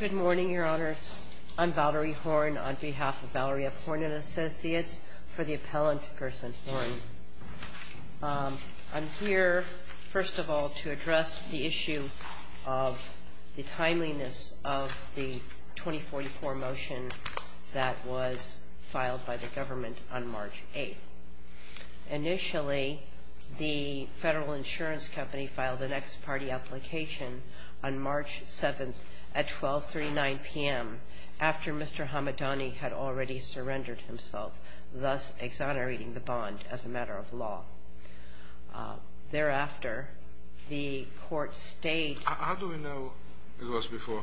Good morning, your honors. I'm Valerie Horn on behalf of Valerie F. Horn and Associates for the appellant person Horn. I'm here, first of all, to address the issue of the timeliness of the 2044 motion that was filed by the government on March 8. Initially, the federal insurance company filed an ex parte application on March 7 at 1239 p.m. after Mr. Hamadani had already surrendered himself, thus exonerating the bond as a matter of law. Thereafter, the court stayed... How do we know it was before?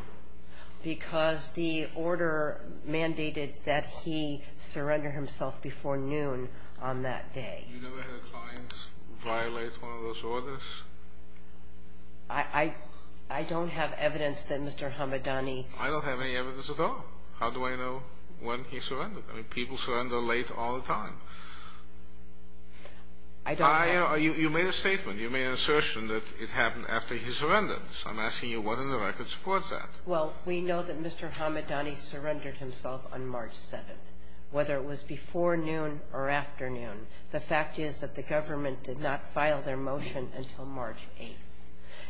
Because the order mandated that he surrender himself before noon on that day. You never had a client violate one of those orders? I don't have evidence that Mr. Hamadani... I don't have any evidence at all. How do I know when he surrendered? I mean, people surrender late all the time. I don't have... You made a statement. You made an assertion that it happened after he surrendered. So I'm asking you, what in the record supports that? Well, we know that Mr. Hamadani surrendered himself on March 7, whether it was before noon or afternoon. The fact is that the government did not file their motion until March 8.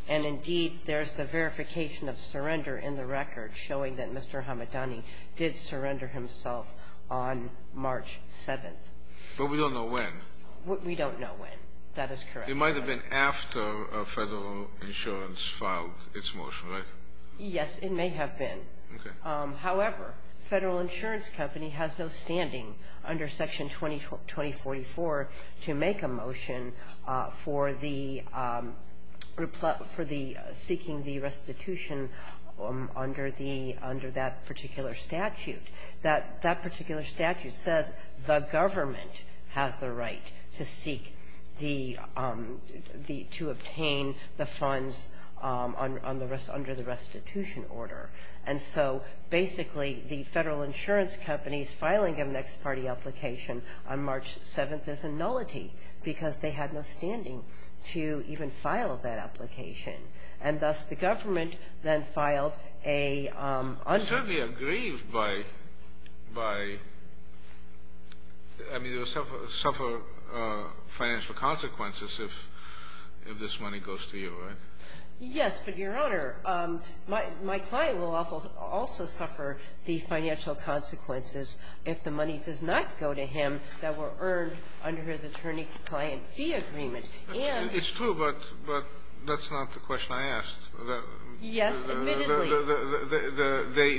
And indeed, there's the verification of surrender in the record showing that Mr. Hamadani did surrender himself on March 7. But we don't know when. We don't know when. That is correct. It might have been after federal insurance filed its motion, right? Yes, it may have been. Okay. However, the Federal Insurance Company has no standing under Section 2044 to make a motion for the seeking the restitution under the under that particular statute. That particular statute says the government has the right to seek the to obtain the funds under the restitution order. And so basically, the Federal Insurance Company's filing of an ex parte application on March 7th is a nullity because they had no standing to even file that application. And thus, the government then filed a... I mean, they suffer financial consequences if this money goes to you, right? Yes, but, Your Honor, my client will also suffer the financial consequences if the money does not go to him that were earned under his attorney-client fee agreement. It's true, but that's not the question I asked. Yes, admittedly.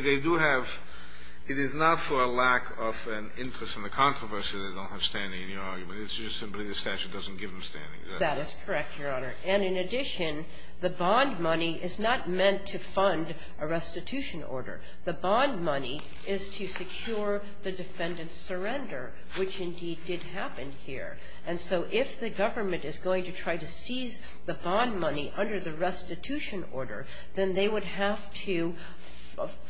They do have – it is not for a lack of an interest in the controversy they don't have standing in your argument. It's just simply the statute doesn't give them standing. That is correct, Your Honor. And in addition, the bond money is not meant to fund a restitution order. The bond money is to secure the defendant's surrender, which indeed did happen here. And so if the government is going to try to seize the bond money under the restitution order, then they would have to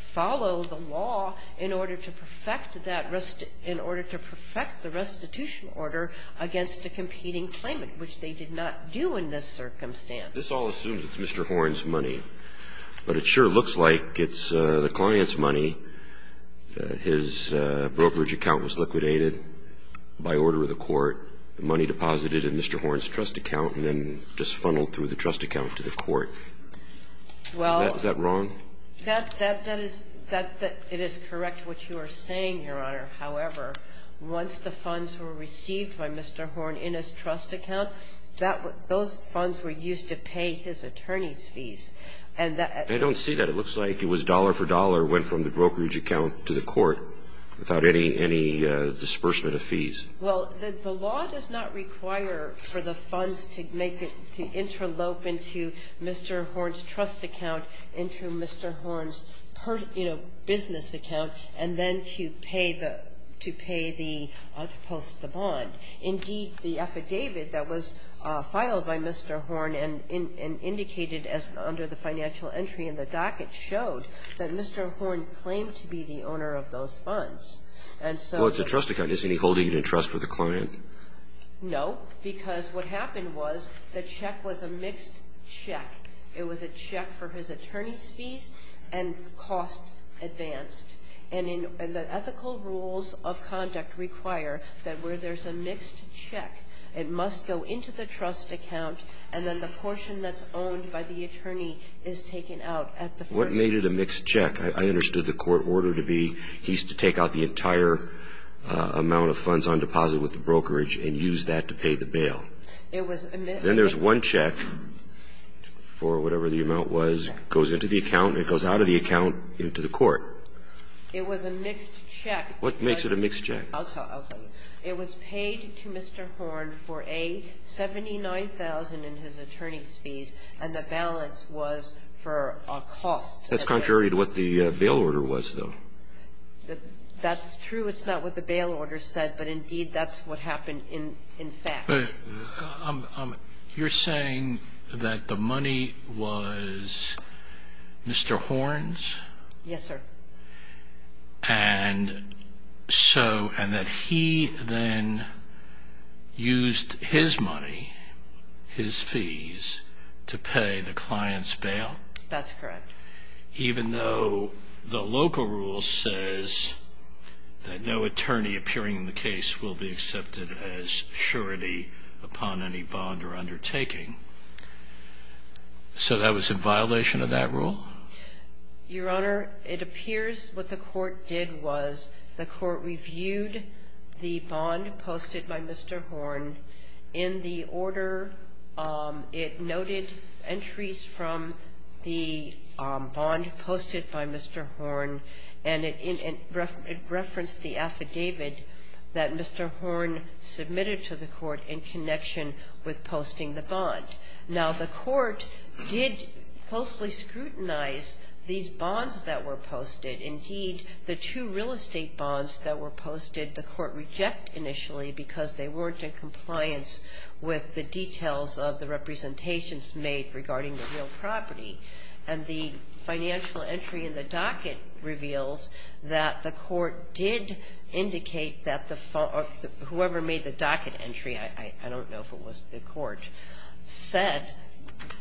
follow the law in order to perfect that restitution – in order to perfect the restitution order against a competing claimant, which they did not do in this circumstance. This all assumes it's Mr. Horn's money, but it sure looks like it's the client's money. His brokerage account was liquidated by order of the court, the money deposited in Mr. Horn's trust account, and then just funneled through the trust account to the court. Is that wrong? Well, that is – it is correct what you are saying, Your Honor. However, once the funds were received by Mr. Horn in his trust account, that – those funds were used to pay his attorney's fees. And that – I don't see that. It looks like it was dollar for dollar, went from the brokerage account to the court without any – any disbursement of fees. Well, the law does not require for the funds to make it – to interlope into Mr. Horn's trust account, into Mr. Horn's, you know, business account, and then to pay the – to post the bond. Indeed, the affidavit that was filed by Mr. Horn and indicated under the financial entry in the docket showed that Mr. Horn claimed to be the owner of those funds. And so – Well, it's a trust account. Isn't he holding it in trust with the client? No, because what happened was the check was a mixed check. It was a check for his attorney's fees and cost advanced. And in – and the ethical rules of conduct require that where there's a mixed check, it must go into the trust account, and then the portion that's owned by the attorney is taken out at the first – What made it a mixed check? I understood the court order to be he's to take out the entire amount of funds on deposit with the brokerage and use that to pay the bail. It was a mixed check. Then there's one check for whatever the amount was, goes into the account, and it goes out of the account into the court. It was a mixed check. What makes it a mixed check? I'll tell you. It was paid to Mr. Horn for a $79,000 in his attorney's fees, and the balance was for a cost. That's contrary to what the bail order was, though. That's true. It's not what the bail order said, but, indeed, that's what happened in fact. You're saying that the money was Mr. Horn's? Yes, sir. And so – and that he then used his money, his fees, to pay the client's bail? That's correct. Even though the local rule says that no attorney appearing in the case will be accepted as surety upon any bond or undertaking. So that was in violation of that rule? Your Honor, it appears what the court did was the court reviewed the bond posted by Mr. Horn. In the order, it noted entries from the bond posted by Mr. Horn, and it referenced the affidavit that Mr. Horn submitted to the court in connection with posting the bond. Now, the court did closely scrutinize these bonds that were posted. Indeed, the two real estate bonds that were posted, the court rejected initially because they weren't in compliance with the details of the representations made regarding the real property, and the financial entry in the docket reveals that the court did indicate that the – whoever made the docket entry, I don't know if it was the court, said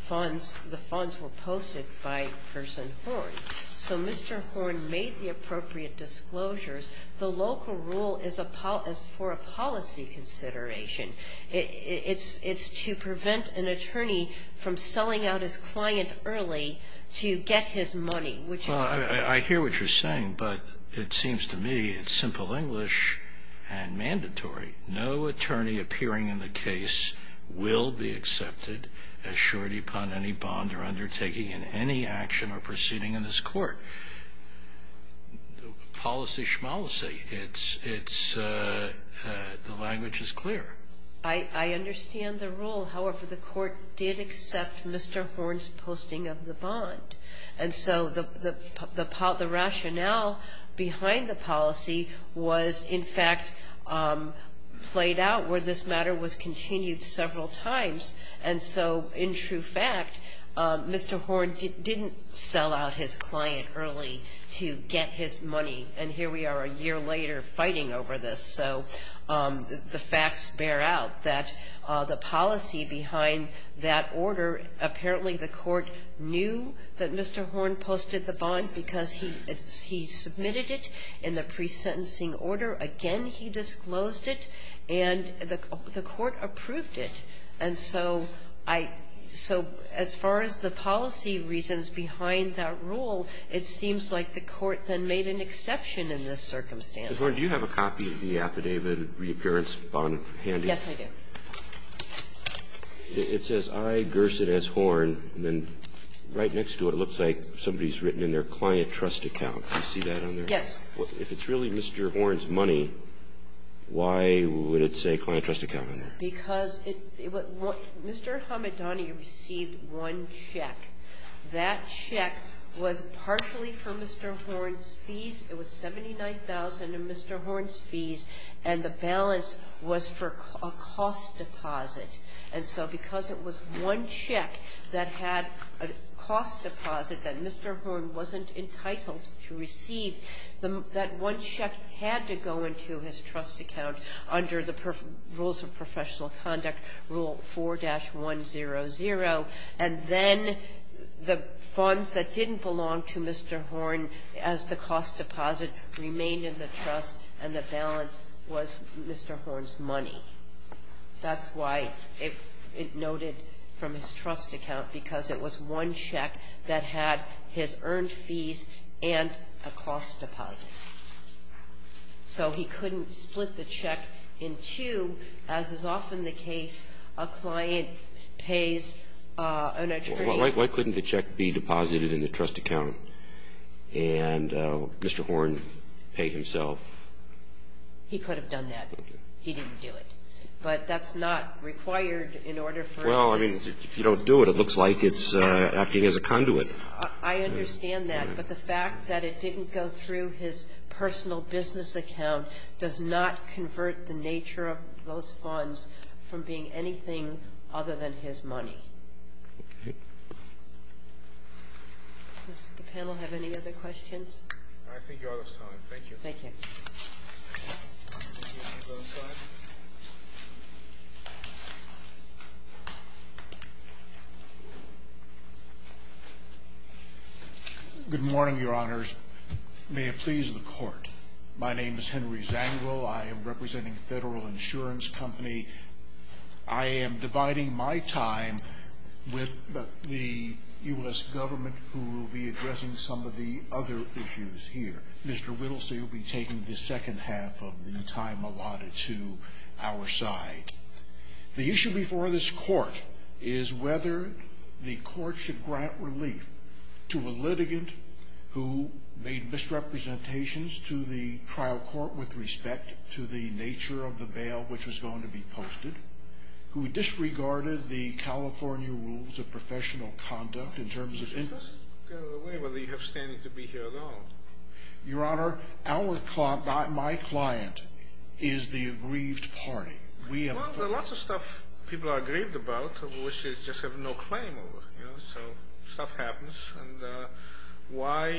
the funds were posted by Person Horn. So Mr. Horn made the appropriate disclosures. The local rule is for a policy consideration. It's to prevent an attorney from selling out his client early to get his money, which is a violation. Well, I hear what you're saying, but it seems to me it's simple English and mandatory. No attorney appearing in the case will be accepted as short upon any bond or undertaking in any action or proceeding in this court. Policy schmolicy. It's – the language is clear. I understand the rule. However, the court did accept Mr. Horn's posting of the bond. And so the rationale behind the policy was, in fact, played out where this matter was continued several times. And so, in true fact, Mr. Horn didn't sell out his client early to get his money, and here we are a year later fighting over this. So the facts bear out that the policy behind that order, apparently the court knew that Mr. Horn posted the bond because he submitted it in the pre-sentencing order. Again, he disclosed it, and the court approved it. And so I – so as far as the policy reasons behind that rule, it seems like the court then made an exception in this circumstance. Mr. Horn, do you have a copy of the Affidavit of Reappearance Bond handy? Yes, I do. It says, I, Gerson S. Horn. And then right next to it looks like somebody's written in their client trust account. Do you see that on there? Yes. If it's really Mr. Horn's money, why would it say client trust account on there? Because it – Mr. Hamadani received one check. That check was partially for Mr. Horn's fees. It was $79,000 in Mr. Horn's fees. And the balance was for a cost deposit. And so because it was one check that had a cost deposit that Mr. Horn wasn't entitled to receive, that one check had to go into his trust account under the Rules of Professional Conduct, Rule 4-100. And then the funds that didn't belong to Mr. Horn as the cost deposit remained in the balance was Mr. Horn's money. That's why it noted from his trust account, because it was one check that had his earned fees and a cost deposit. So he couldn't split the check in two, as is often the case. A client pays an attorney. Why couldn't the check be deposited in the trust account and Mr. Horn pay himself? He could have done that. He didn't do it. But that's not required in order for him to do it. Well, I mean, if you don't do it, it looks like it's acting as a conduit. I understand that. But the fact that it didn't go through his personal business account does not convert the nature of those funds from being anything other than his money. Okay. Does the panel have any other questions? I think you're out of time. Thank you, Your Honor. Good morning, Your Honors. May it please the Court. My name is Henry Zangwill. I am representing Federal Insurance Company. I am dividing my time with the U.S. government, who will be addressing some of the other issues here. Mr. Whittlesey will be taking the second half of the time allotted to our side. The issue before this Court is whether the Court should grant relief to a litigant who made misrepresentations to the trial court with respect to the nature of the bail which was going to be posted, who disregarded the California rules of professional conduct in terms of interest. Whether you have standing to be here at all. Your Honor, my client is the aggrieved party. Well, there's lots of stuff people are aggrieved about which they just have no claim over. So stuff happens. And why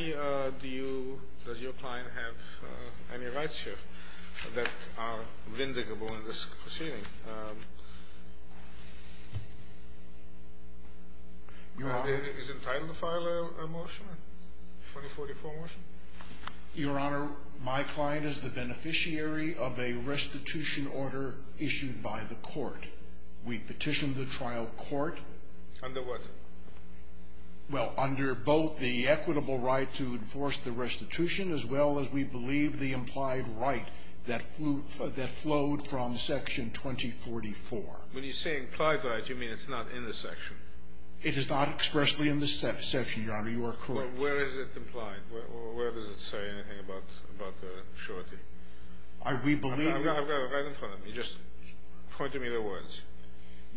does your client have any rights here that are vindicable in this proceeding? Is it time to file a motion? A 2044 motion? Your Honor, my client is the beneficiary of a restitution order issued by the Court. We petitioned the trial court. Under what? Well, under both the equitable right to enforce the restitution as well as we believe the When you say implied right, you mean it's not in the section? It is not expressly in the section, Your Honor. You are correct. Well, where is it implied? Where does it say anything about the surety? We believe I've got it right in front of me. Just point to me the words.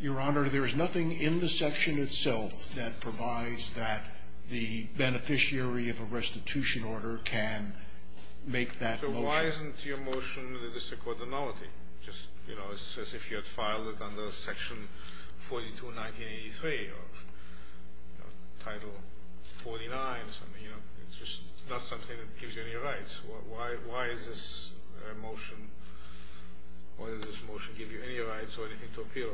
Your Honor, there is nothing in the section itself that provides that the beneficiary of a restitution order can make that motion. Why isn't your motion in the District Court the novelty? Just, you know, as if you had filed it under Section 42, 1983 or Title 49 or something, you know. It's just not something that gives you any rights. Why is this motion give you any rights or anything to appeal?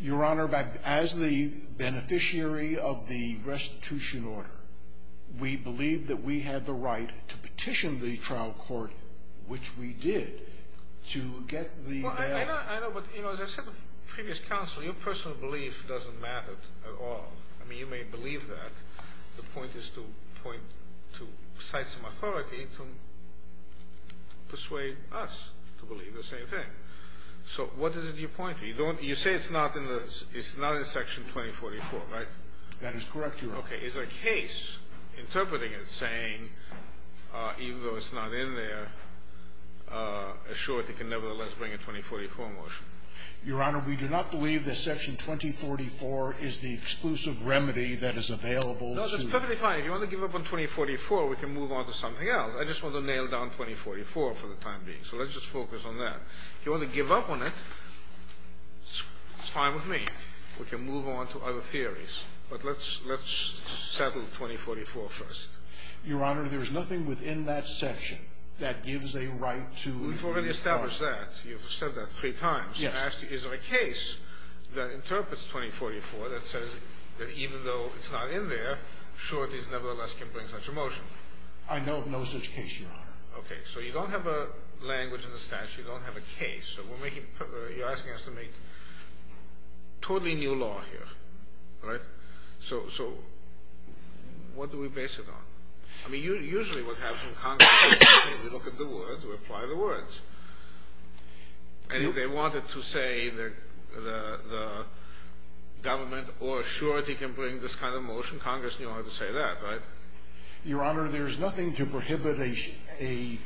Your Honor, as the beneficiary of the restitution order, we believe that we had the right to petition the trial court, which we did, to get the Well, I know, but, you know, as I said to previous counsel, your personal belief doesn't matter at all. I mean, you may believe that. The point is to cite some authority to persuade us to believe the same thing. So what is it you point to? You say it's not in Section 2044, right? That is correct, Your Honor. Okay. Is there a case interpreting it saying, even though it's not in there, assured it can nevertheless bring a 2044 motion? Your Honor, we do not believe that Section 2044 is the exclusive remedy that is available No, that's perfectly fine. If you want to give up on 2044, we can move on to something else. I just want to nail down 2044 for the time being. So let's just focus on that. If you want to give up on it, it's fine with me. We can move on to other theories. But let's settle 2044 first. Your Honor, there is nothing within that section that gives a right to use force. You've already established that. You've said that three times. Yes. Is there a case that interprets 2044 that says that even though it's not in there, sure it nevertheless can bring such a motion? I know of no such case, Your Honor. Okay. So you don't have a language in the statute. You don't have a case. You're asking us to make totally new law here, right? So what do we base it on? I mean, usually what happens in Congress is we look at the words, we apply the words. And if they wanted to say that the government or surety can bring this kind of motion, Congress knew how to say that, right? Your Honor, there is nothing to prohibit an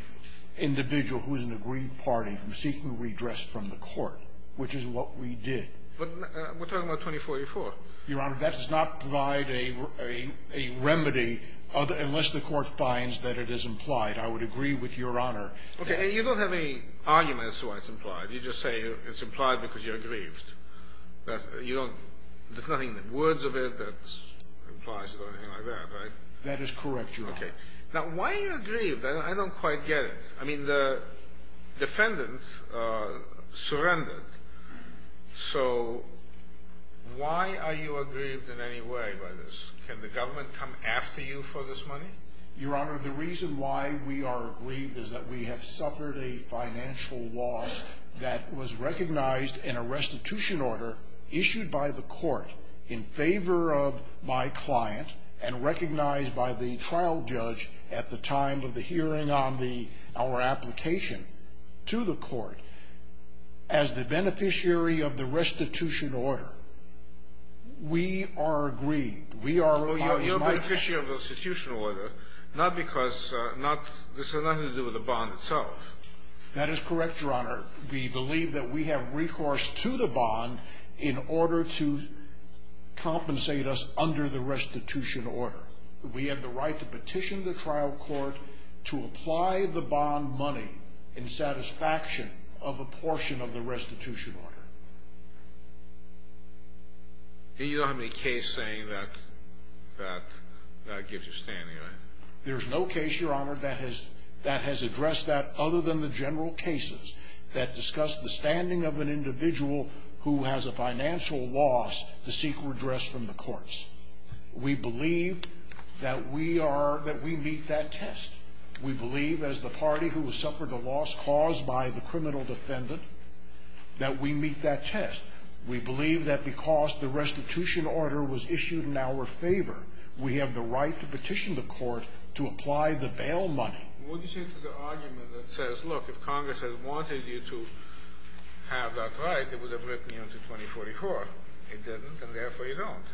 individual who is in a grieved party from seeking redress from the court, which is what we did. But we're talking about 2044. Your Honor, that does not provide a remedy unless the court finds that it is implied. I would agree with Your Honor. Okay. You don't have any arguments as to why it's implied. You just say it's implied because you're grieved. There's nothing in the words of it that implies it or anything like that, right? That is correct, Your Honor. Okay. Now, why are you aggrieved? I don't quite get it. I mean, the defendant surrendered. So why are you aggrieved in any way by this? Can the government come after you for this money? Your Honor, the reason why we are aggrieved is that we have suffered a financial loss that was recognized in a restitution order issued by the court in favor of my client and recognized by the trial judge at the time of the hearing on our application to the court. As the beneficiary of the restitution order, we are aggrieved. We are always mindful. Well, you're a beneficiary of the restitution order, not because this has nothing to do with the bond itself. That is correct, Your Honor. We believe that we have recourse to the bond in order to compensate us under the restitution order. We have the right to petition the trial court to apply the bond money in satisfaction of a portion of the restitution order. You don't have any case saying that that gives you standing, right? There's no case, Your Honor, that has addressed that other than the general cases that discuss the standing of an individual who has a financial loss to seek redress from the courts. We believe that we meet that test. We believe, as the party who has suffered a loss caused by the criminal defendant, that we meet that test. We believe that because the restitution order was issued in our favor, we have the right to petition the court to apply the bail money. What do you say to the argument that says, look, if Congress had wanted you to have that right, it would have written you into 2044. It didn't, and therefore you don't.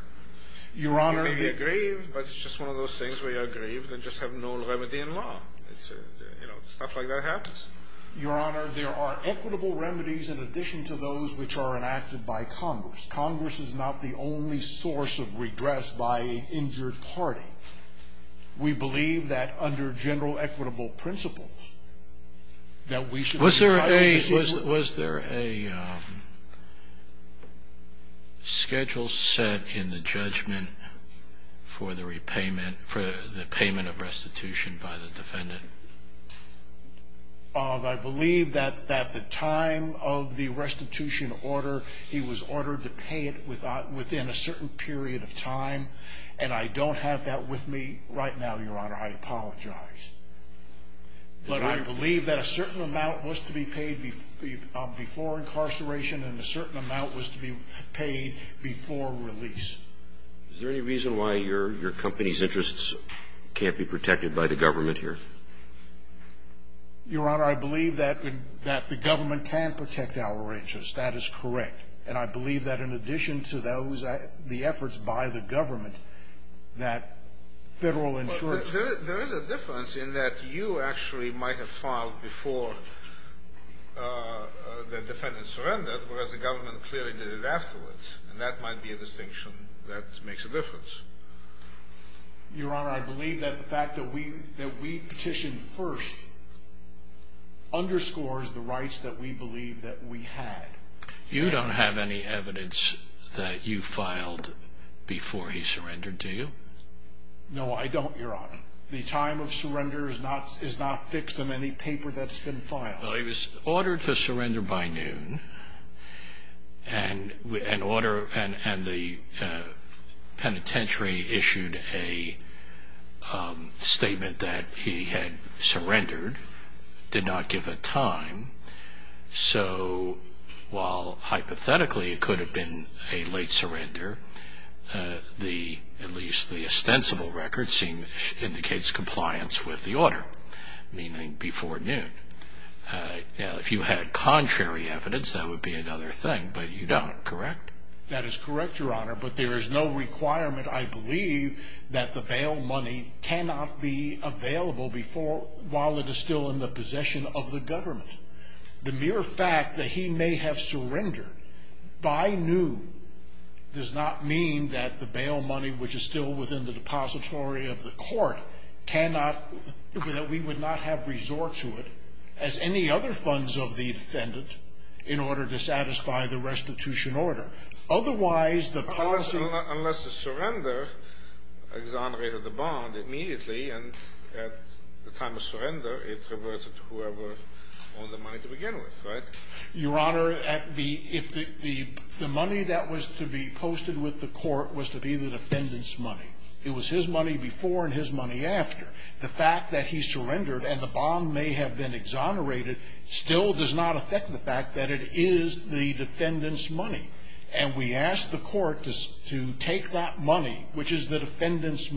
You may be aggrieved, but it's just one of those things where you're aggrieved and just have no remedy in law. Stuff like that happens. Your Honor, there are equitable remedies in addition to those which are enacted by Congress. Congress is not the only source of redress by an injured party. We believe that under general equitable principles that we should be trying to see to it. Was there a schedule set in the judgment for the repayment, for the payment of restitution by the defendant? I believe that at the time of the restitution order, he was ordered to pay it within a certain period of time, and I don't have that with me right now, Your Honor. I apologize. But I believe that a certain amount was to be paid before incarceration, and a certain amount was to be paid before release. Is there any reason why your company's interests can't be protected by the government here? Your Honor, I believe that the government can protect our interests. That is correct. And I believe that in addition to those, the efforts by the government, that Federal Insurance ---- There is a difference in that you actually might have filed before the defendant surrendered, whereas the government clearly did it afterwards. And that might be a distinction that makes a difference. Your Honor, I believe that the fact that we petitioned first underscores the rights that we believe that we had. You don't have any evidence that you filed before he surrendered, do you? No, I don't, Your Honor. The time of surrender is not fixed on any paper that's been filed. Well, he was ordered to surrender by noon, and the penitentiary issued a statement that he had surrendered, did not give a time. So while hypothetically it could have been a late surrender, at least the ostensible record indicates compliance with the order, meaning before noon. Now, if you had contrary evidence, that would be another thing, but you don't, correct? That is correct, Your Honor, but there is no requirement, I believe, that the bail money cannot be available before while it is still in the possession of the government. The mere fact that he may have surrendered by noon does not mean that the bail money, which is still within the depository of the court, cannot – that we would not have resort to it as any other funds of the defendant in order to satisfy the restitution order. Otherwise, the policy – Unless the surrender exonerated the bond immediately, and at the time of surrender, it reverted to whoever owned the money to begin with, right? Your Honor, if the money that was to be posted with the court was to be the defendant's money, it was his money before and his money after, the fact that he surrendered and the bond may have been exonerated still does not affect the fact that it is the defendant's money, and we ask the court to take that money, which is the defendant's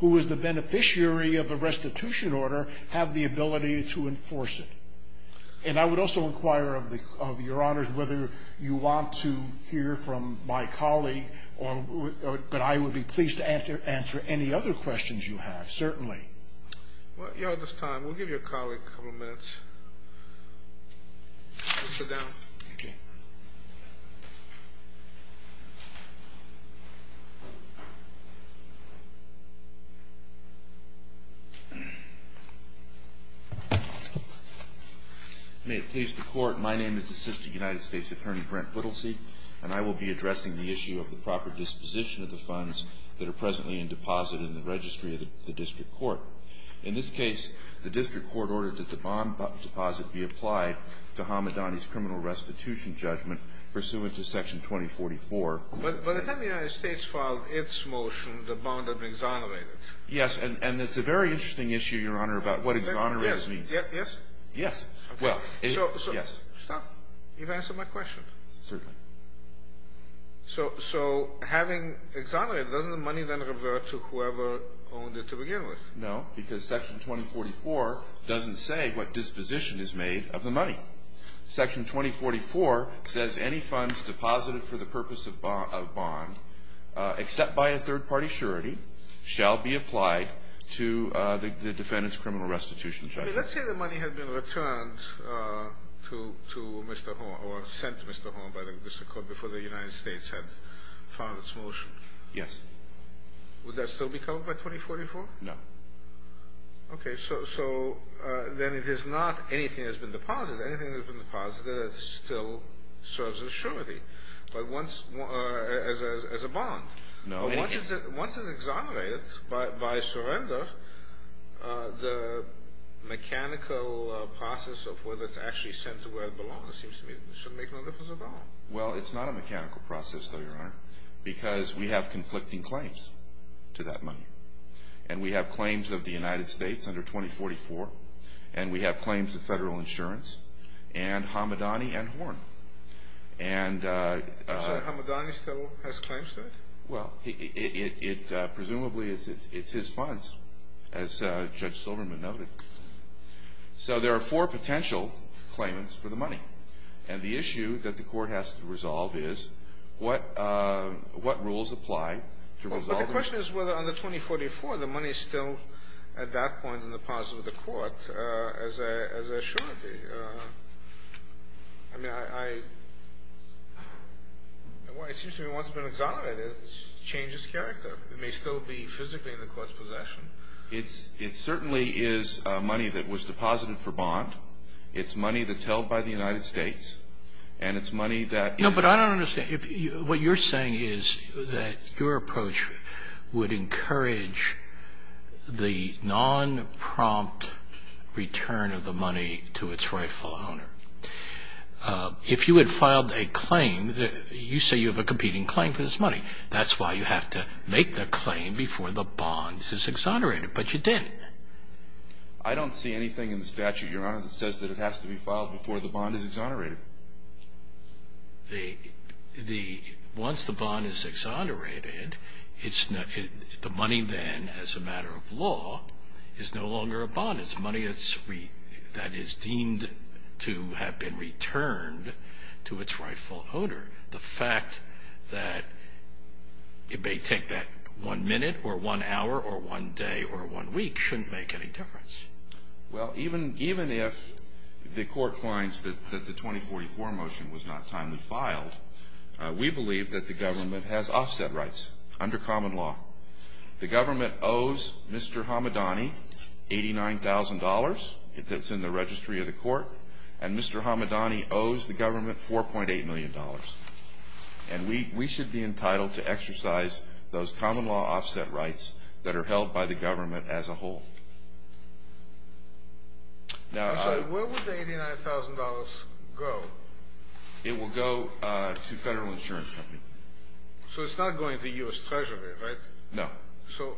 who is the beneficiary of the restitution order have the ability to enforce it. And I would also inquire of the – of Your Honors whether you want to hear from my colleague or – but I would be pleased to answer any other questions you have, certainly. Well, Your Honor, at this time, we'll give your colleague a couple of minutes. Please sit down. Thank you. May it please the Court, my name is Assistant United States Attorney Brent Whittlesey, and I will be addressing the issue of the proper disposition of the funds that are In this case, the district court ordered that the bond deposit be applied to Hamidani's criminal restitution judgment pursuant to Section 2044. But if the United States filed its motion, the bond would be exonerated. Yes, and it's a very interesting issue, Your Honor, about what exonerated means. Yes? Yes. Okay. So – Yes. Stop. You've answered my question. Certainly. So having exonerated, doesn't the money then revert to whoever owned it to begin with? No, because Section 2044 doesn't say what disposition is made of the money. Section 2044 says any funds deposited for the purpose of bond, except by a third-party surety, shall be applied to the defendant's criminal restitution judgment. Let's say the money had been returned to Mr. Holm – or sent to Mr. Holm by the district court before the United States had filed its motion. Yes. Would that still be covered by 2044? No. Okay. So then it is not anything that has been deposited. Anything that has been deposited still serves as a surety. But once – as a bond. No. Once it's exonerated by surrender, the mechanical process of whether it's actually sent to where it belongs, it seems to me, should make no difference at all. Well, it's not a mechanical process, though, Your Honor, because we have conflicting claims to that money. And we have claims of the United States under 2044, and we have claims of Federal Insurance and Hamadani and Horn. And – You're saying Hamadani still has claims to it? Well, it – presumably it's his funds, as Judge Silverman noted. So there are four potential claimants for the money. And the issue that the Court has to resolve is what – what rules apply to resolve Well, the question is whether under 2044, the money is still at that point in the deposit with the Court as a – as a surety. I mean, I – it seems to me once it's been exonerated, it changes character. It may still be physically in the Court's possession. It's – it certainly is money that was deposited for bond. It's money that's held by the United States. And it's money that – No, but I don't understand. What you're saying is that your approach would encourage the non-prompt return of the money to its rightful owner. If you had filed a claim – you say you have a competing claim for this money. That's why you have to make the claim before the bond is exonerated. But you didn't. I don't see anything in the statute, Your Honor, that says that it has to be filed before the bond is exonerated. The – the – once the bond is exonerated, it's – the money then, as a matter of law, is no longer a bond. It's money that's – that is deemed to have been returned to its rightful owner. The fact that it may take that one minute or one hour or one day or one week shouldn't make any difference. Well, even – even if the court finds that the 2044 motion was not timely filed, we believe that the government has offset rights under common law. The government owes Mr. Hamadani $89,000. That's in the registry of the court. And Mr. Hamadani owes the government $4.8 million. And we – we should be entitled to exercise those common law offset rights that are held by the government as a whole. Now, I – I'm sorry, where would the $89,000 go? It will go to Federal Insurance Company. So it's not going to U.S. Treasury, right? No. So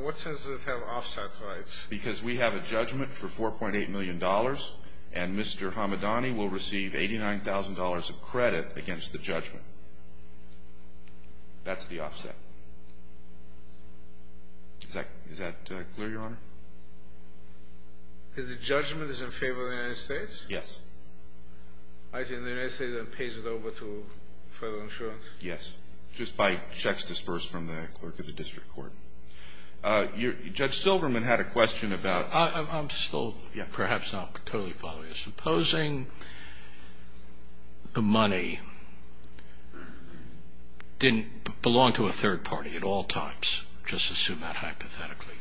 what sense does it have, offset rights? Because we have a judgment for $4.8 million, and Mr. Hamadani will receive $89,000 of credit against the judgment. That's the offset. Is that – is that clear, Your Honor? The judgment is in favor of the United States? Yes. I think the United States pays it over to Federal Insurance? Yes, just by checks dispersed from the clerk of the district court. Judge Silverman had a question about – I'm still perhaps not totally following. Supposing the money didn't belong to a third party at all times, just assume that hypothetically.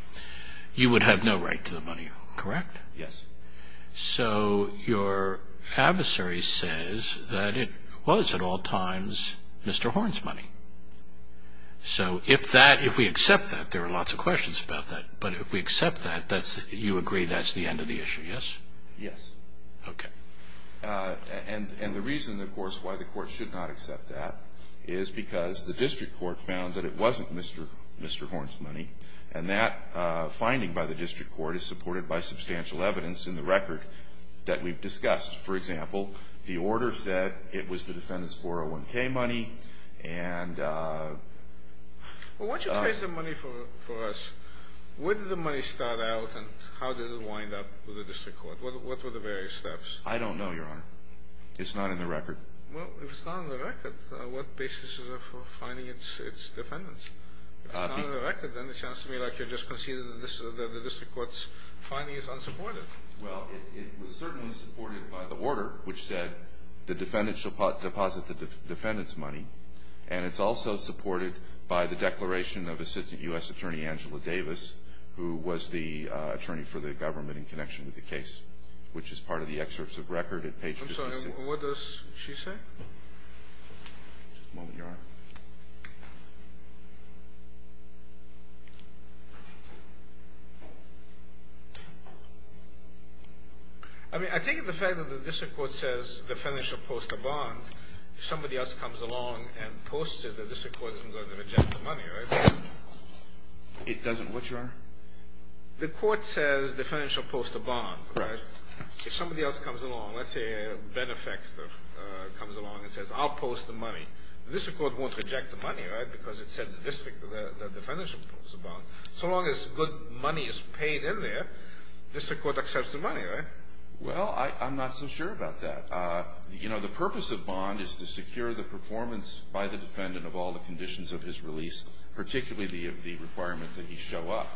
You would have no right to the money, correct? Yes. So your adversary says that it was at all times Mr. Horn's money. So if that – if we accept that, there are lots of questions about that. But if we accept that, that's – you agree that's the end of the issue, yes? Yes. Okay. And the reason, of course, why the Court should not accept that is because the district court found that it wasn't Mr. Horn's money, and that finding by the district court is supported by substantial evidence in the record that we've discussed. For example, the order said it was the defendant's 401k money, and – Well, once you've paid the money for us, where did the money start out, and how did it wind up with the district court? What were the various steps? I don't know, Your Honor. It's not in the record. Well, if it's not in the record, what basis is there for finding its defendants? If it's not in the record, then it sounds to me like you're just conceding that the district court's finding is unsupported. Well, it was certainly supported by the order, which said the defendant shall deposit the defendant's money, and it's also supported by the declaration of Assistant U.S. Attorney Angela Davis, who was the attorney for the government in connection with the case, which is part of the excerpts of record at page 56. I'm sorry. What does she say? Just a moment, Your Honor. I mean, I take it the fact that the district court says the defendant shall post a bond, if somebody else comes along and posts it, the district court isn't going to reject the money, right? It doesn't what, Your Honor? The court says the defendant shall post a bond, right? If somebody else comes along, let's say a benefactor comes along and says, I'll post the money, the district court won't reject the money, right, because it said the defendant shall post a bond. So long as good money is paid in there, the district court accepts the money, right? Well, I'm not so sure about that. You know, the purpose of bond is to secure the performance by the defendant of all the conditions of his release, particularly the requirement that he show up.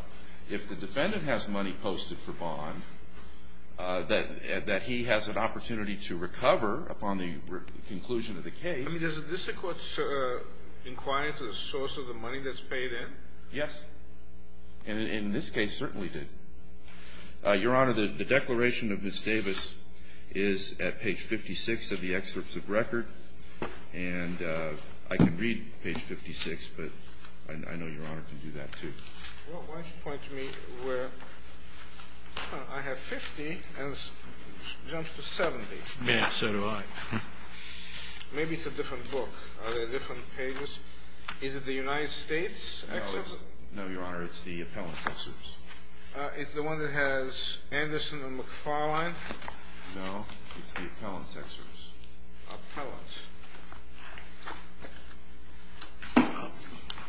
If the defendant has money posted for bond, that he has an opportunity to recover upon the conclusion of the case. I mean, does the district court inquire into the source of the money that's paid in? Yes. And in this case, certainly did. Your Honor, the declaration of Ms. Davis is at page 56 of the excerpts of record. And I can read page 56, but I know Your Honor can do that, too. Well, why don't you point to me where, I have 50 and it jumps to 70. Yeah, so do I. Maybe it's a different book. Are there different pages? Is it the United States excerpt? No, Your Honor, it's the appellant's excerpts. It's the one that has Anderson and McFarlane? No, it's the appellant's excerpts. Appellant's.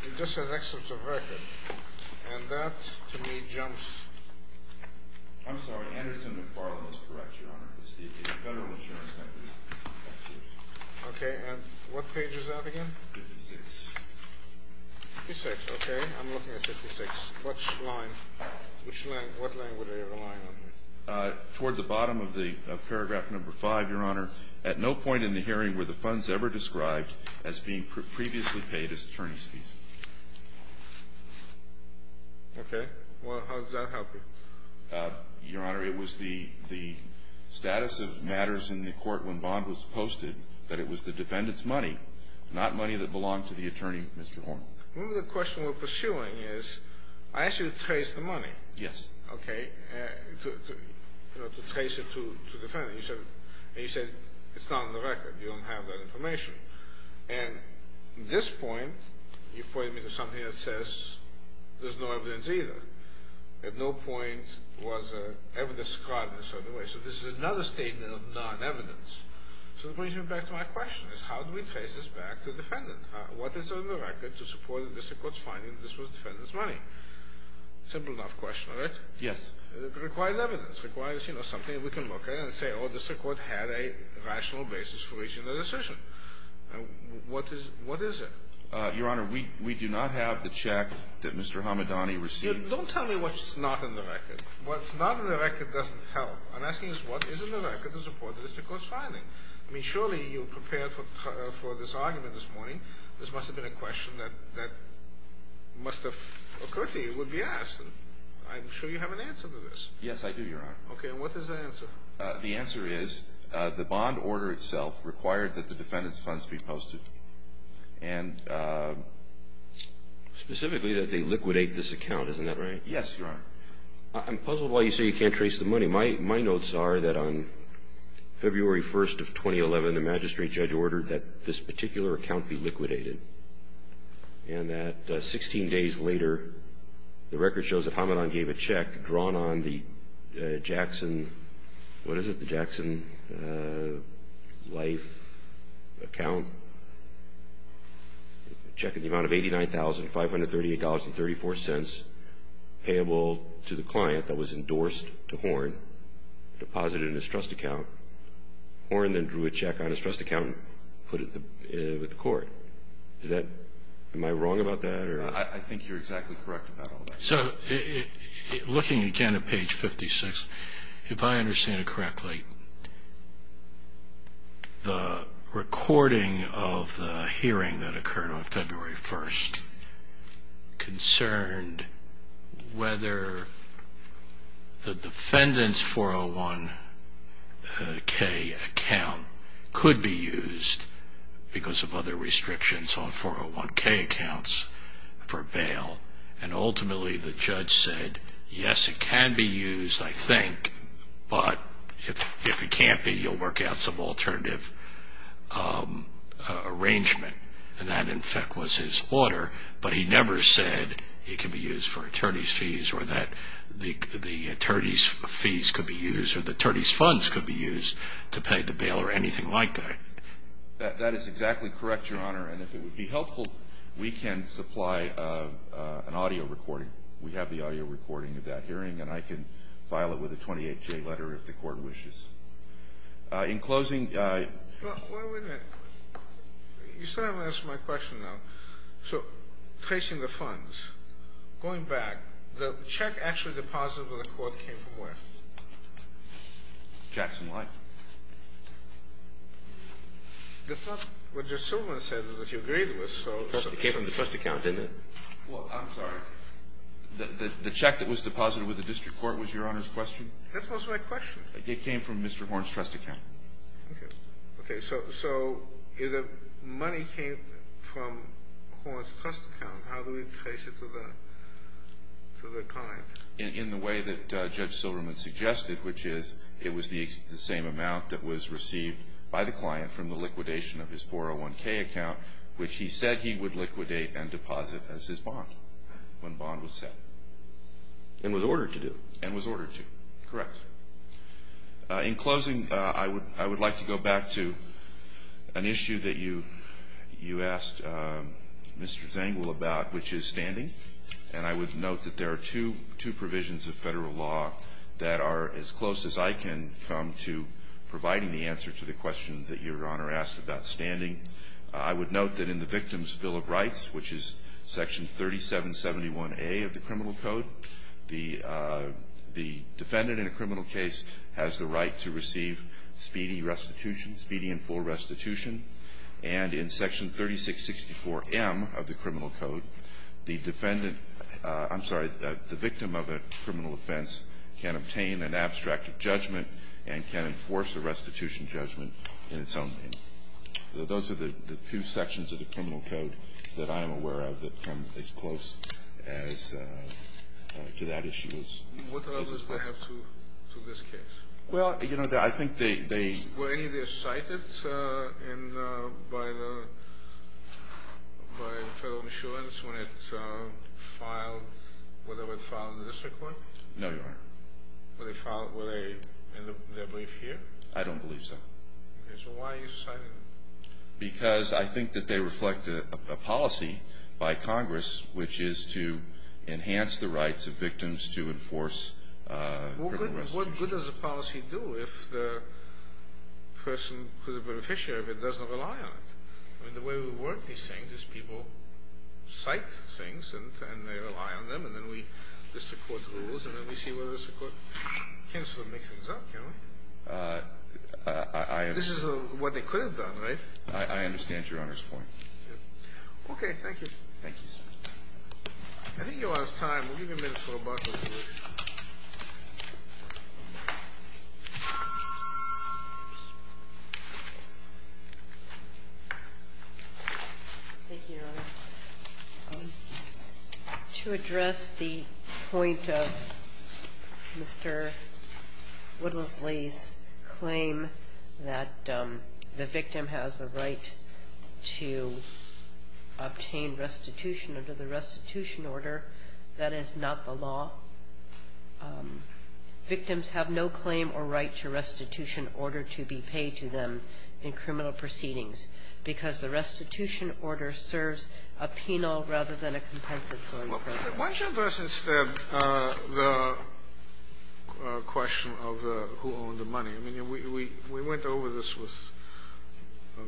It just says excerpts of record. And that, to me, jumps. I'm sorry. Anderson and McFarlane is correct, Your Honor. It's the federal insurance company's excerpts. Okay. And what page is that again? 56. 56, okay. I'm looking at 56. Which line? Which line? What line were they relying on? Toward the bottom of paragraph number 5, Your Honor. At no point in the hearing were the funds ever described as being previously paid as attorney's fees. Okay. Well, how does that help you? Your Honor, it was the status of matters in the court when Bond was posted that it was the defendant's money, not money that belonged to the attorney, Mr. Horn. Remember the question we're pursuing is, I asked you to trace the money. Yes. Okay. To trace it to the defendant. And you said it's not on the record. You don't have that information. And at this point, you've pointed me to something that says there's no evidence either. At no point was evidence described in a certain way. So this is another statement of non-evidence. So it brings me back to my question is how do we trace this back to the defendant? What is on the record to support the district court's finding that this was the defendant's money? Simple enough question, right? Yes. It requires evidence. It requires, you know, something we can look at and say, oh, the district court had a rational basis for reaching the decision. What is it? Your Honor, we do not have the check that Mr. Hamadani received. Don't tell me what's not in the record. What's not in the record doesn't help. I'm asking is what is in the record to support the district court's finding? I mean, surely you prepared for this argument this morning. This must have been a question that must have occurred to you, would be asked. I'm sure you have an answer to this. Yes, I do, Your Honor. Okay. And what is the answer? The answer is the bond order itself required that the defendant's funds be posted. And specifically that they liquidate this account. Isn't that right? Yes, Your Honor. I'm puzzled why you say you can't trace the money. My notes are that on February 1st of 2011, the magistrate judge ordered that this particular account be liquidated. And that 16 days later, the record shows that Hamadani gave a check drawn on the Jackson, what is it, the Jackson Life account, checking the amount of $89,538.34 payable to the client that was endorsed to Horn, deposited in his trust account. Horn then drew a check on his trust account and put it with the court. Am I wrong about that? I think you're exactly correct about all that. So looking again at page 56, if I understand it correctly, the recording of the hearing that occurred on February 1st concerned whether the defendant's 401k account could be used because of other restrictions on 401k accounts for bail. And ultimately, the judge said, yes, it can be used, I think. But if it can't be, you'll work out some alternative arrangement. And that, in fact, was his order. But he never said it could be used for attorney's fees or that the attorney's fees could be used or the attorney's funds could be used to pay the bail or anything like that. That is exactly correct, Your Honor. And if it would be helpful, we can supply an audio recording. We have the audio recording of that hearing, and I can file it with a 28-J letter if the court wishes. In closing ---- Well, wait a minute. You still haven't answered my question, though. So tracing the funds, going back, the check actually deposited to the court came from where? Jackson Life. That's not what Judge Silverman said that he agreed with. It came from the trust account, didn't it? Well, I'm sorry. The check that was deposited with the district court was Your Honor's question? That was my question. It came from Mr. Horne's trust account. Okay. Okay. So if the money came from Horne's trust account, how do we trace it to the client? In the way that Judge Silverman suggested, which is it was the same amount that was received by the client from the liquidation of his 401K account, which he said he would liquidate and deposit as his bond when bond was set. And was ordered to do. And was ordered to. Correct. In closing, I would like to go back to an issue that you asked Mr. Zangwill about, which is standing. And I would note that there are two provisions of Federal law that are as close as I can come to providing the answer to the question that Your Honor asked about standing. I would note that in the Victim's Bill of Rights, which is Section 3771A of the Criminal Code, the defendant in a criminal case has the right to receive speedy restitution, speedy and full restitution. And in Section 3664M of the Criminal Code, the defendant, I'm sorry, the victim of a criminal offense can obtain an abstract judgment and can enforce a restitution judgment in its own name. Those are the two sections of the Criminal Code that I am aware of that come as close as to that issue as possible. What others do I have to this case? Were any of these cited by the Federal Insurance when it filed, when it filed in the district court? No, Your Honor. Were they in their brief here? I don't believe so. Okay, so why are you citing them? Because I think that they reflect a policy by Congress, which is to enhance the rights of victims to enforce criminal restitution. But what good does a policy do if the person who's a beneficiary of it doesn't rely on it? I mean, the way we work these things is people cite things and they rely on them, and then we list the court's rules, and then we see whether the district court can sort of mix things up, can't we? I understand. This is what they could have done, right? I understand Your Honor's point. Okay. Thank you. Thank you, sir. I think Your Honor's time. We'll give you a minute for rebuttal. Thank you, Your Honor. To address the point of Mr. Woodlesley's claim that the victim has the right to obtain restitution under the restitution order, that is not the law. Victims have no claim or right to restitution order to be paid to them in criminal proceedings because the restitution order serves a penal rather than a compensatory purpose. Why don't you address instead the question of who owned the money? I mean, we went over this with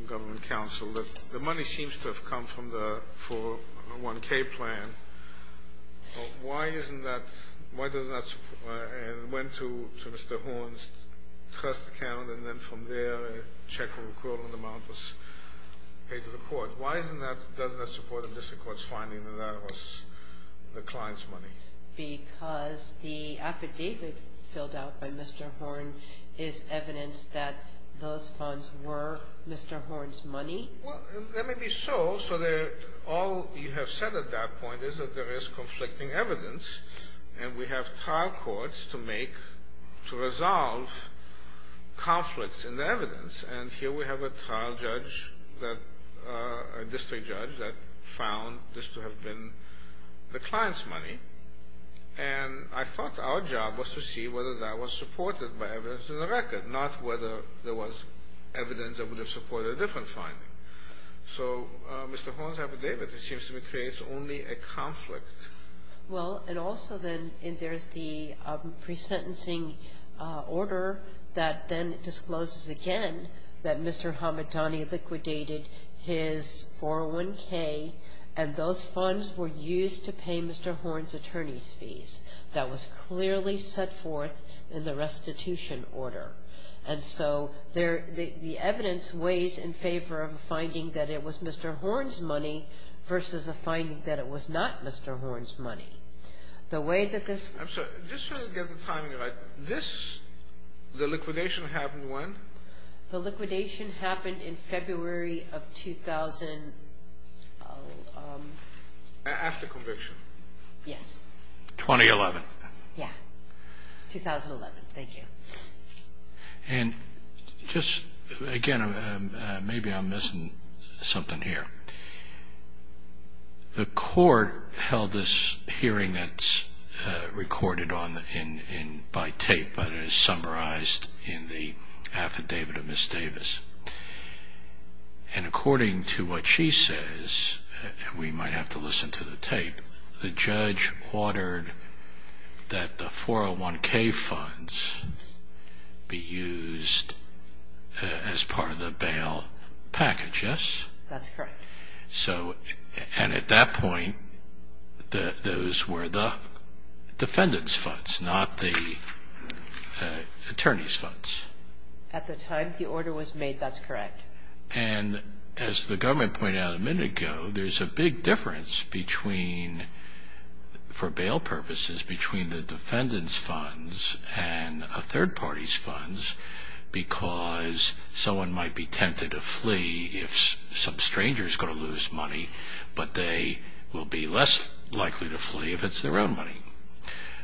government counsel. The money seems to have come from the 401K plan. Why isn't that – why doesn't that – and went to Mr. Horn's trust account, and then from there a check for the equivalent amount was paid to the court. Why isn't that – doesn't that support the district court's finding that that was the client's money? Because the affidavit filled out by Mr. Horn is evidence that those funds were Mr. Horn's money. Well, that may be so. So all you have said at that point is that there is conflicting evidence, and we have trial courts to make – to resolve conflicts in the evidence. And here we have a trial judge that – a district judge that found this to have been the client's money. And I thought our job was to see whether that was supported by evidence in the record, not whether there was evidence that would have supported a different finding. So Mr. Horn's affidavit, it seems to me, creates only a conflict. Well, and also then there's the pre-sentencing order that then discloses again that Mr. Hamadani liquidated his 401K, and those funds were used to pay Mr. Horn's attorney's fees. That was clearly set forth in the restitution order. And so the evidence weighs in favor of a finding that it was Mr. Horn's money versus a finding that it was not Mr. Horn's money. The way that this – I'm sorry. Just so I can get the timing right. This – the liquidation happened when? The liquidation happened in February of 2000 – After conviction. Yes. 2011. Yeah. 2011. Thank you. And just, again, maybe I'm missing something here. The court held this hearing that's recorded by tape, but it is summarized in the affidavit of Ms. Davis. And according to what she says, and we might have to listen to the tape, the judge ordered that the 401K funds be used as part of the bail package, yes? That's correct. So – and at that point, those were the defendant's funds, not the attorney's funds. At the time the order was made, that's correct. And as the government pointed out a minute ago, there's a big difference between – for bail purposes – between the defendant's funds and a third party's funds because someone might be tempted to flee if some stranger is going to lose money, but they will be less likely to flee if it's their own money.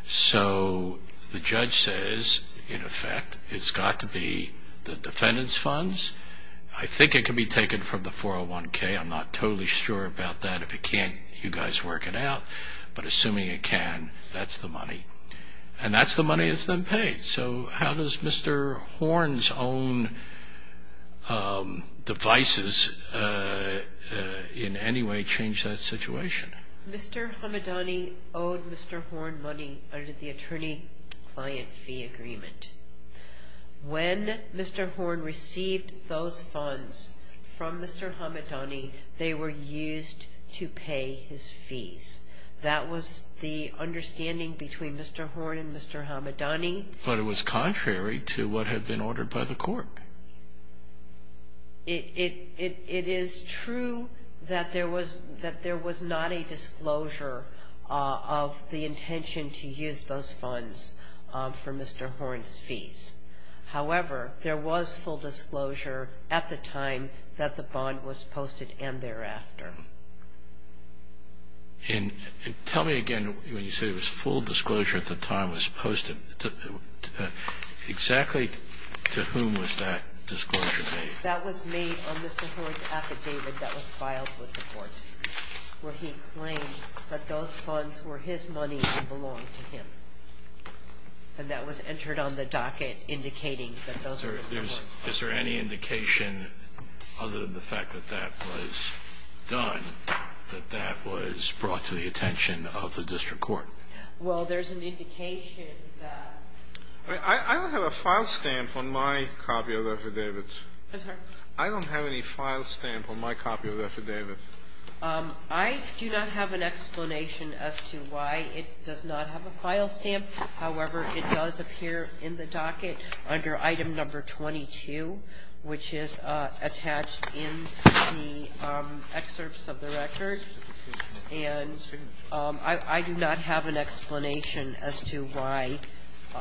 So the judge says, in effect, it's got to be the defendant's funds. I think it could be taken from the 401K. I'm not totally sure about that. If it can't, you guys work it out. But assuming it can, that's the money. And that's the money that's then paid. So how does Mr. Horn's own devices in any way change that situation? Mr. Hamadani owed Mr. Horn money under the attorney-client fee agreement. When Mr. Horn received those funds from Mr. Hamadani, they were used to pay his fees. That was the understanding between Mr. Horn and Mr. Hamadani. But it was contrary to what had been ordered by the court. It is true that there was not a disclosure of the intention to use those funds for Mr. Horn's fees. However, there was full disclosure at the time that the bond was posted and thereafter. And tell me again, when you say there was full disclosure at the time it was posted, exactly to whom was that disclosure made? That was made on Mr. Horn's affidavit that was filed with the court, where he claimed that those funds were his money and belonged to him. And that was entered on the docket indicating that those were Mr. Horn's funds. Is there any indication, other than the fact that that was done, that that was brought to the attention of the district court? Well, there's an indication that — I don't have a file stamp on my copy of the affidavit. I'm sorry? I don't have any file stamp on my copy of the affidavit. I do not have an explanation as to why it does not have a file stamp. However, it does appear in the docket under item number 22, which is attached in the excerpts of the record. And I do not have an explanation as to why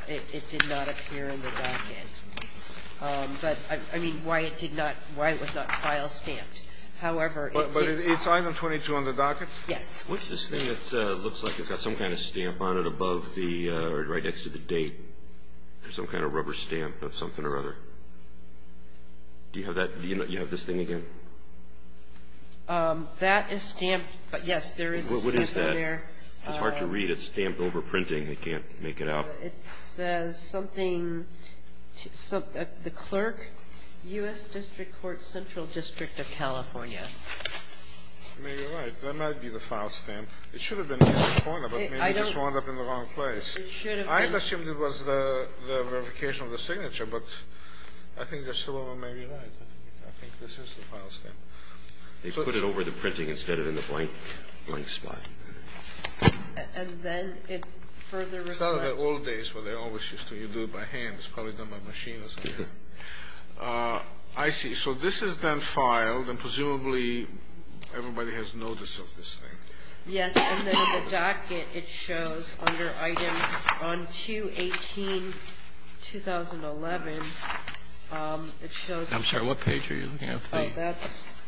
it did not appear in the docket. But, I mean, why it did not — why it was not file stamped. However, it's — But it's item 22 on the docket? Yes. What's this thing that looks like it's got some kind of stamp on it above the — or right next to the date, or some kind of rubber stamp of something or other? Do you have that — do you have this thing again? That is stamped. Yes, there is a stamp on there. What is that? It's hard to read. It's stamped over printing. I can't make it out. It says something — the clerk, U.S. District Court, Central District of California. Maybe you're right. That might be the file stamp. It should have been in the corner, but maybe it just wound up in the wrong place. It should have been. I had assumed it was the verification of the signature, but I think you're still maybe right. I think this is the file stamp. They put it over the printing instead of in the blank spot. And then it further reflects — It's out of the old days where they always used to do it by hand. It's probably done by machine or something. I see. So this is then filed, and presumably everybody has notice of this thing. Yes. And then on the docket, it shows under item — on 2-18-2011, it shows — I'm sorry. What page are you looking at? Oh, that's —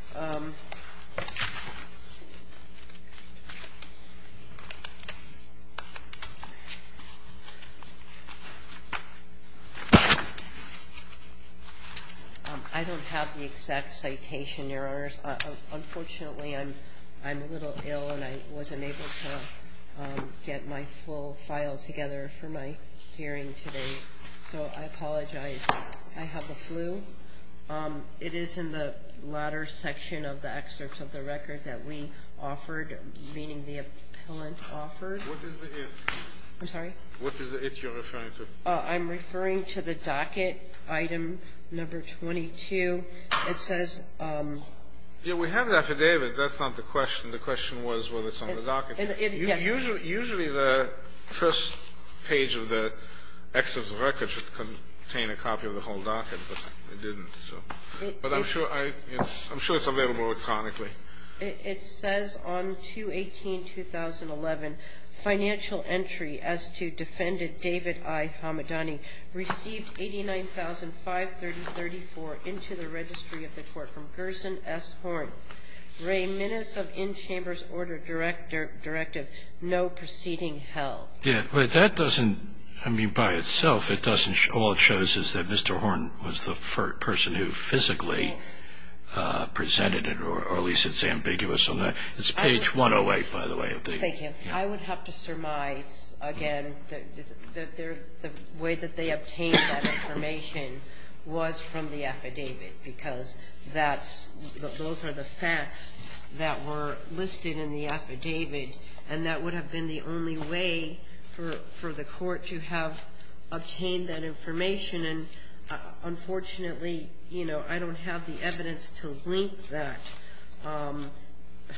I don't have the exact citation, Your Honors. Unfortunately, I'm a little ill, and I wasn't able to get my full file together for my hearing today. So I apologize. I have the flu. It is in the latter section of the excerpts of the record that we offered, meaning the appellant offered. What is the if? I'm sorry? What is the if you're referring to? I'm referring to the docket, item number 22. It says — Yeah. We have the affidavit. That's not the question. The question was whether it's on the docket. Yes. Usually the first page of the excerpt of the record should contain a copy of the whole docket, but it didn't. But I'm sure it's available electronically. It says on 2-18-2011, financial entry as to defendant David I. Hamadani received 89,530.34 into the registry of the court from Gerson S. Horn. Ray Minnis of in-chambers order directive no proceeding held. Yeah. But that doesn't — I mean, by itself, it doesn't — all it shows is that Mr. Horn was the person who physically presented it, or at least it's ambiguous on that. It's page 108, by the way. Thank you. I would have to surmise, again, that the way that they obtained that information was from the affidavit, because that's — those are the facts that were listed in the affidavit, and that would have been the only way for the court to have obtained that information. And unfortunately, you know, I don't have the evidence to link that.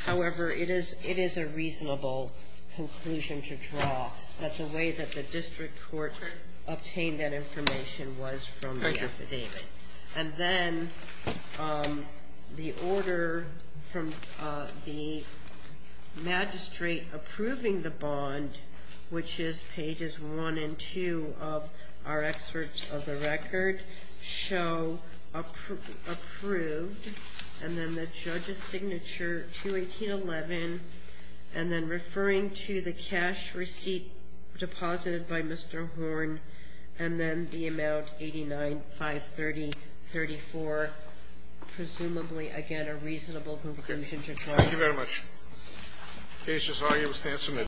However, it is a reasonable conclusion to draw that the way that the district court obtained that information was from the affidavit. And then the order from the magistrate approving the bond, which is pages 1 and 2 of our excerpts of the record, show approved, and then the judge's signature, 218.11, and then referring to the cash receipt deposited by Mr. Horn, and then the amount, 89,530.34. Presumably, again, a reasonable conclusion to draw. Thank you very much. The case is argued. The stand is submitted.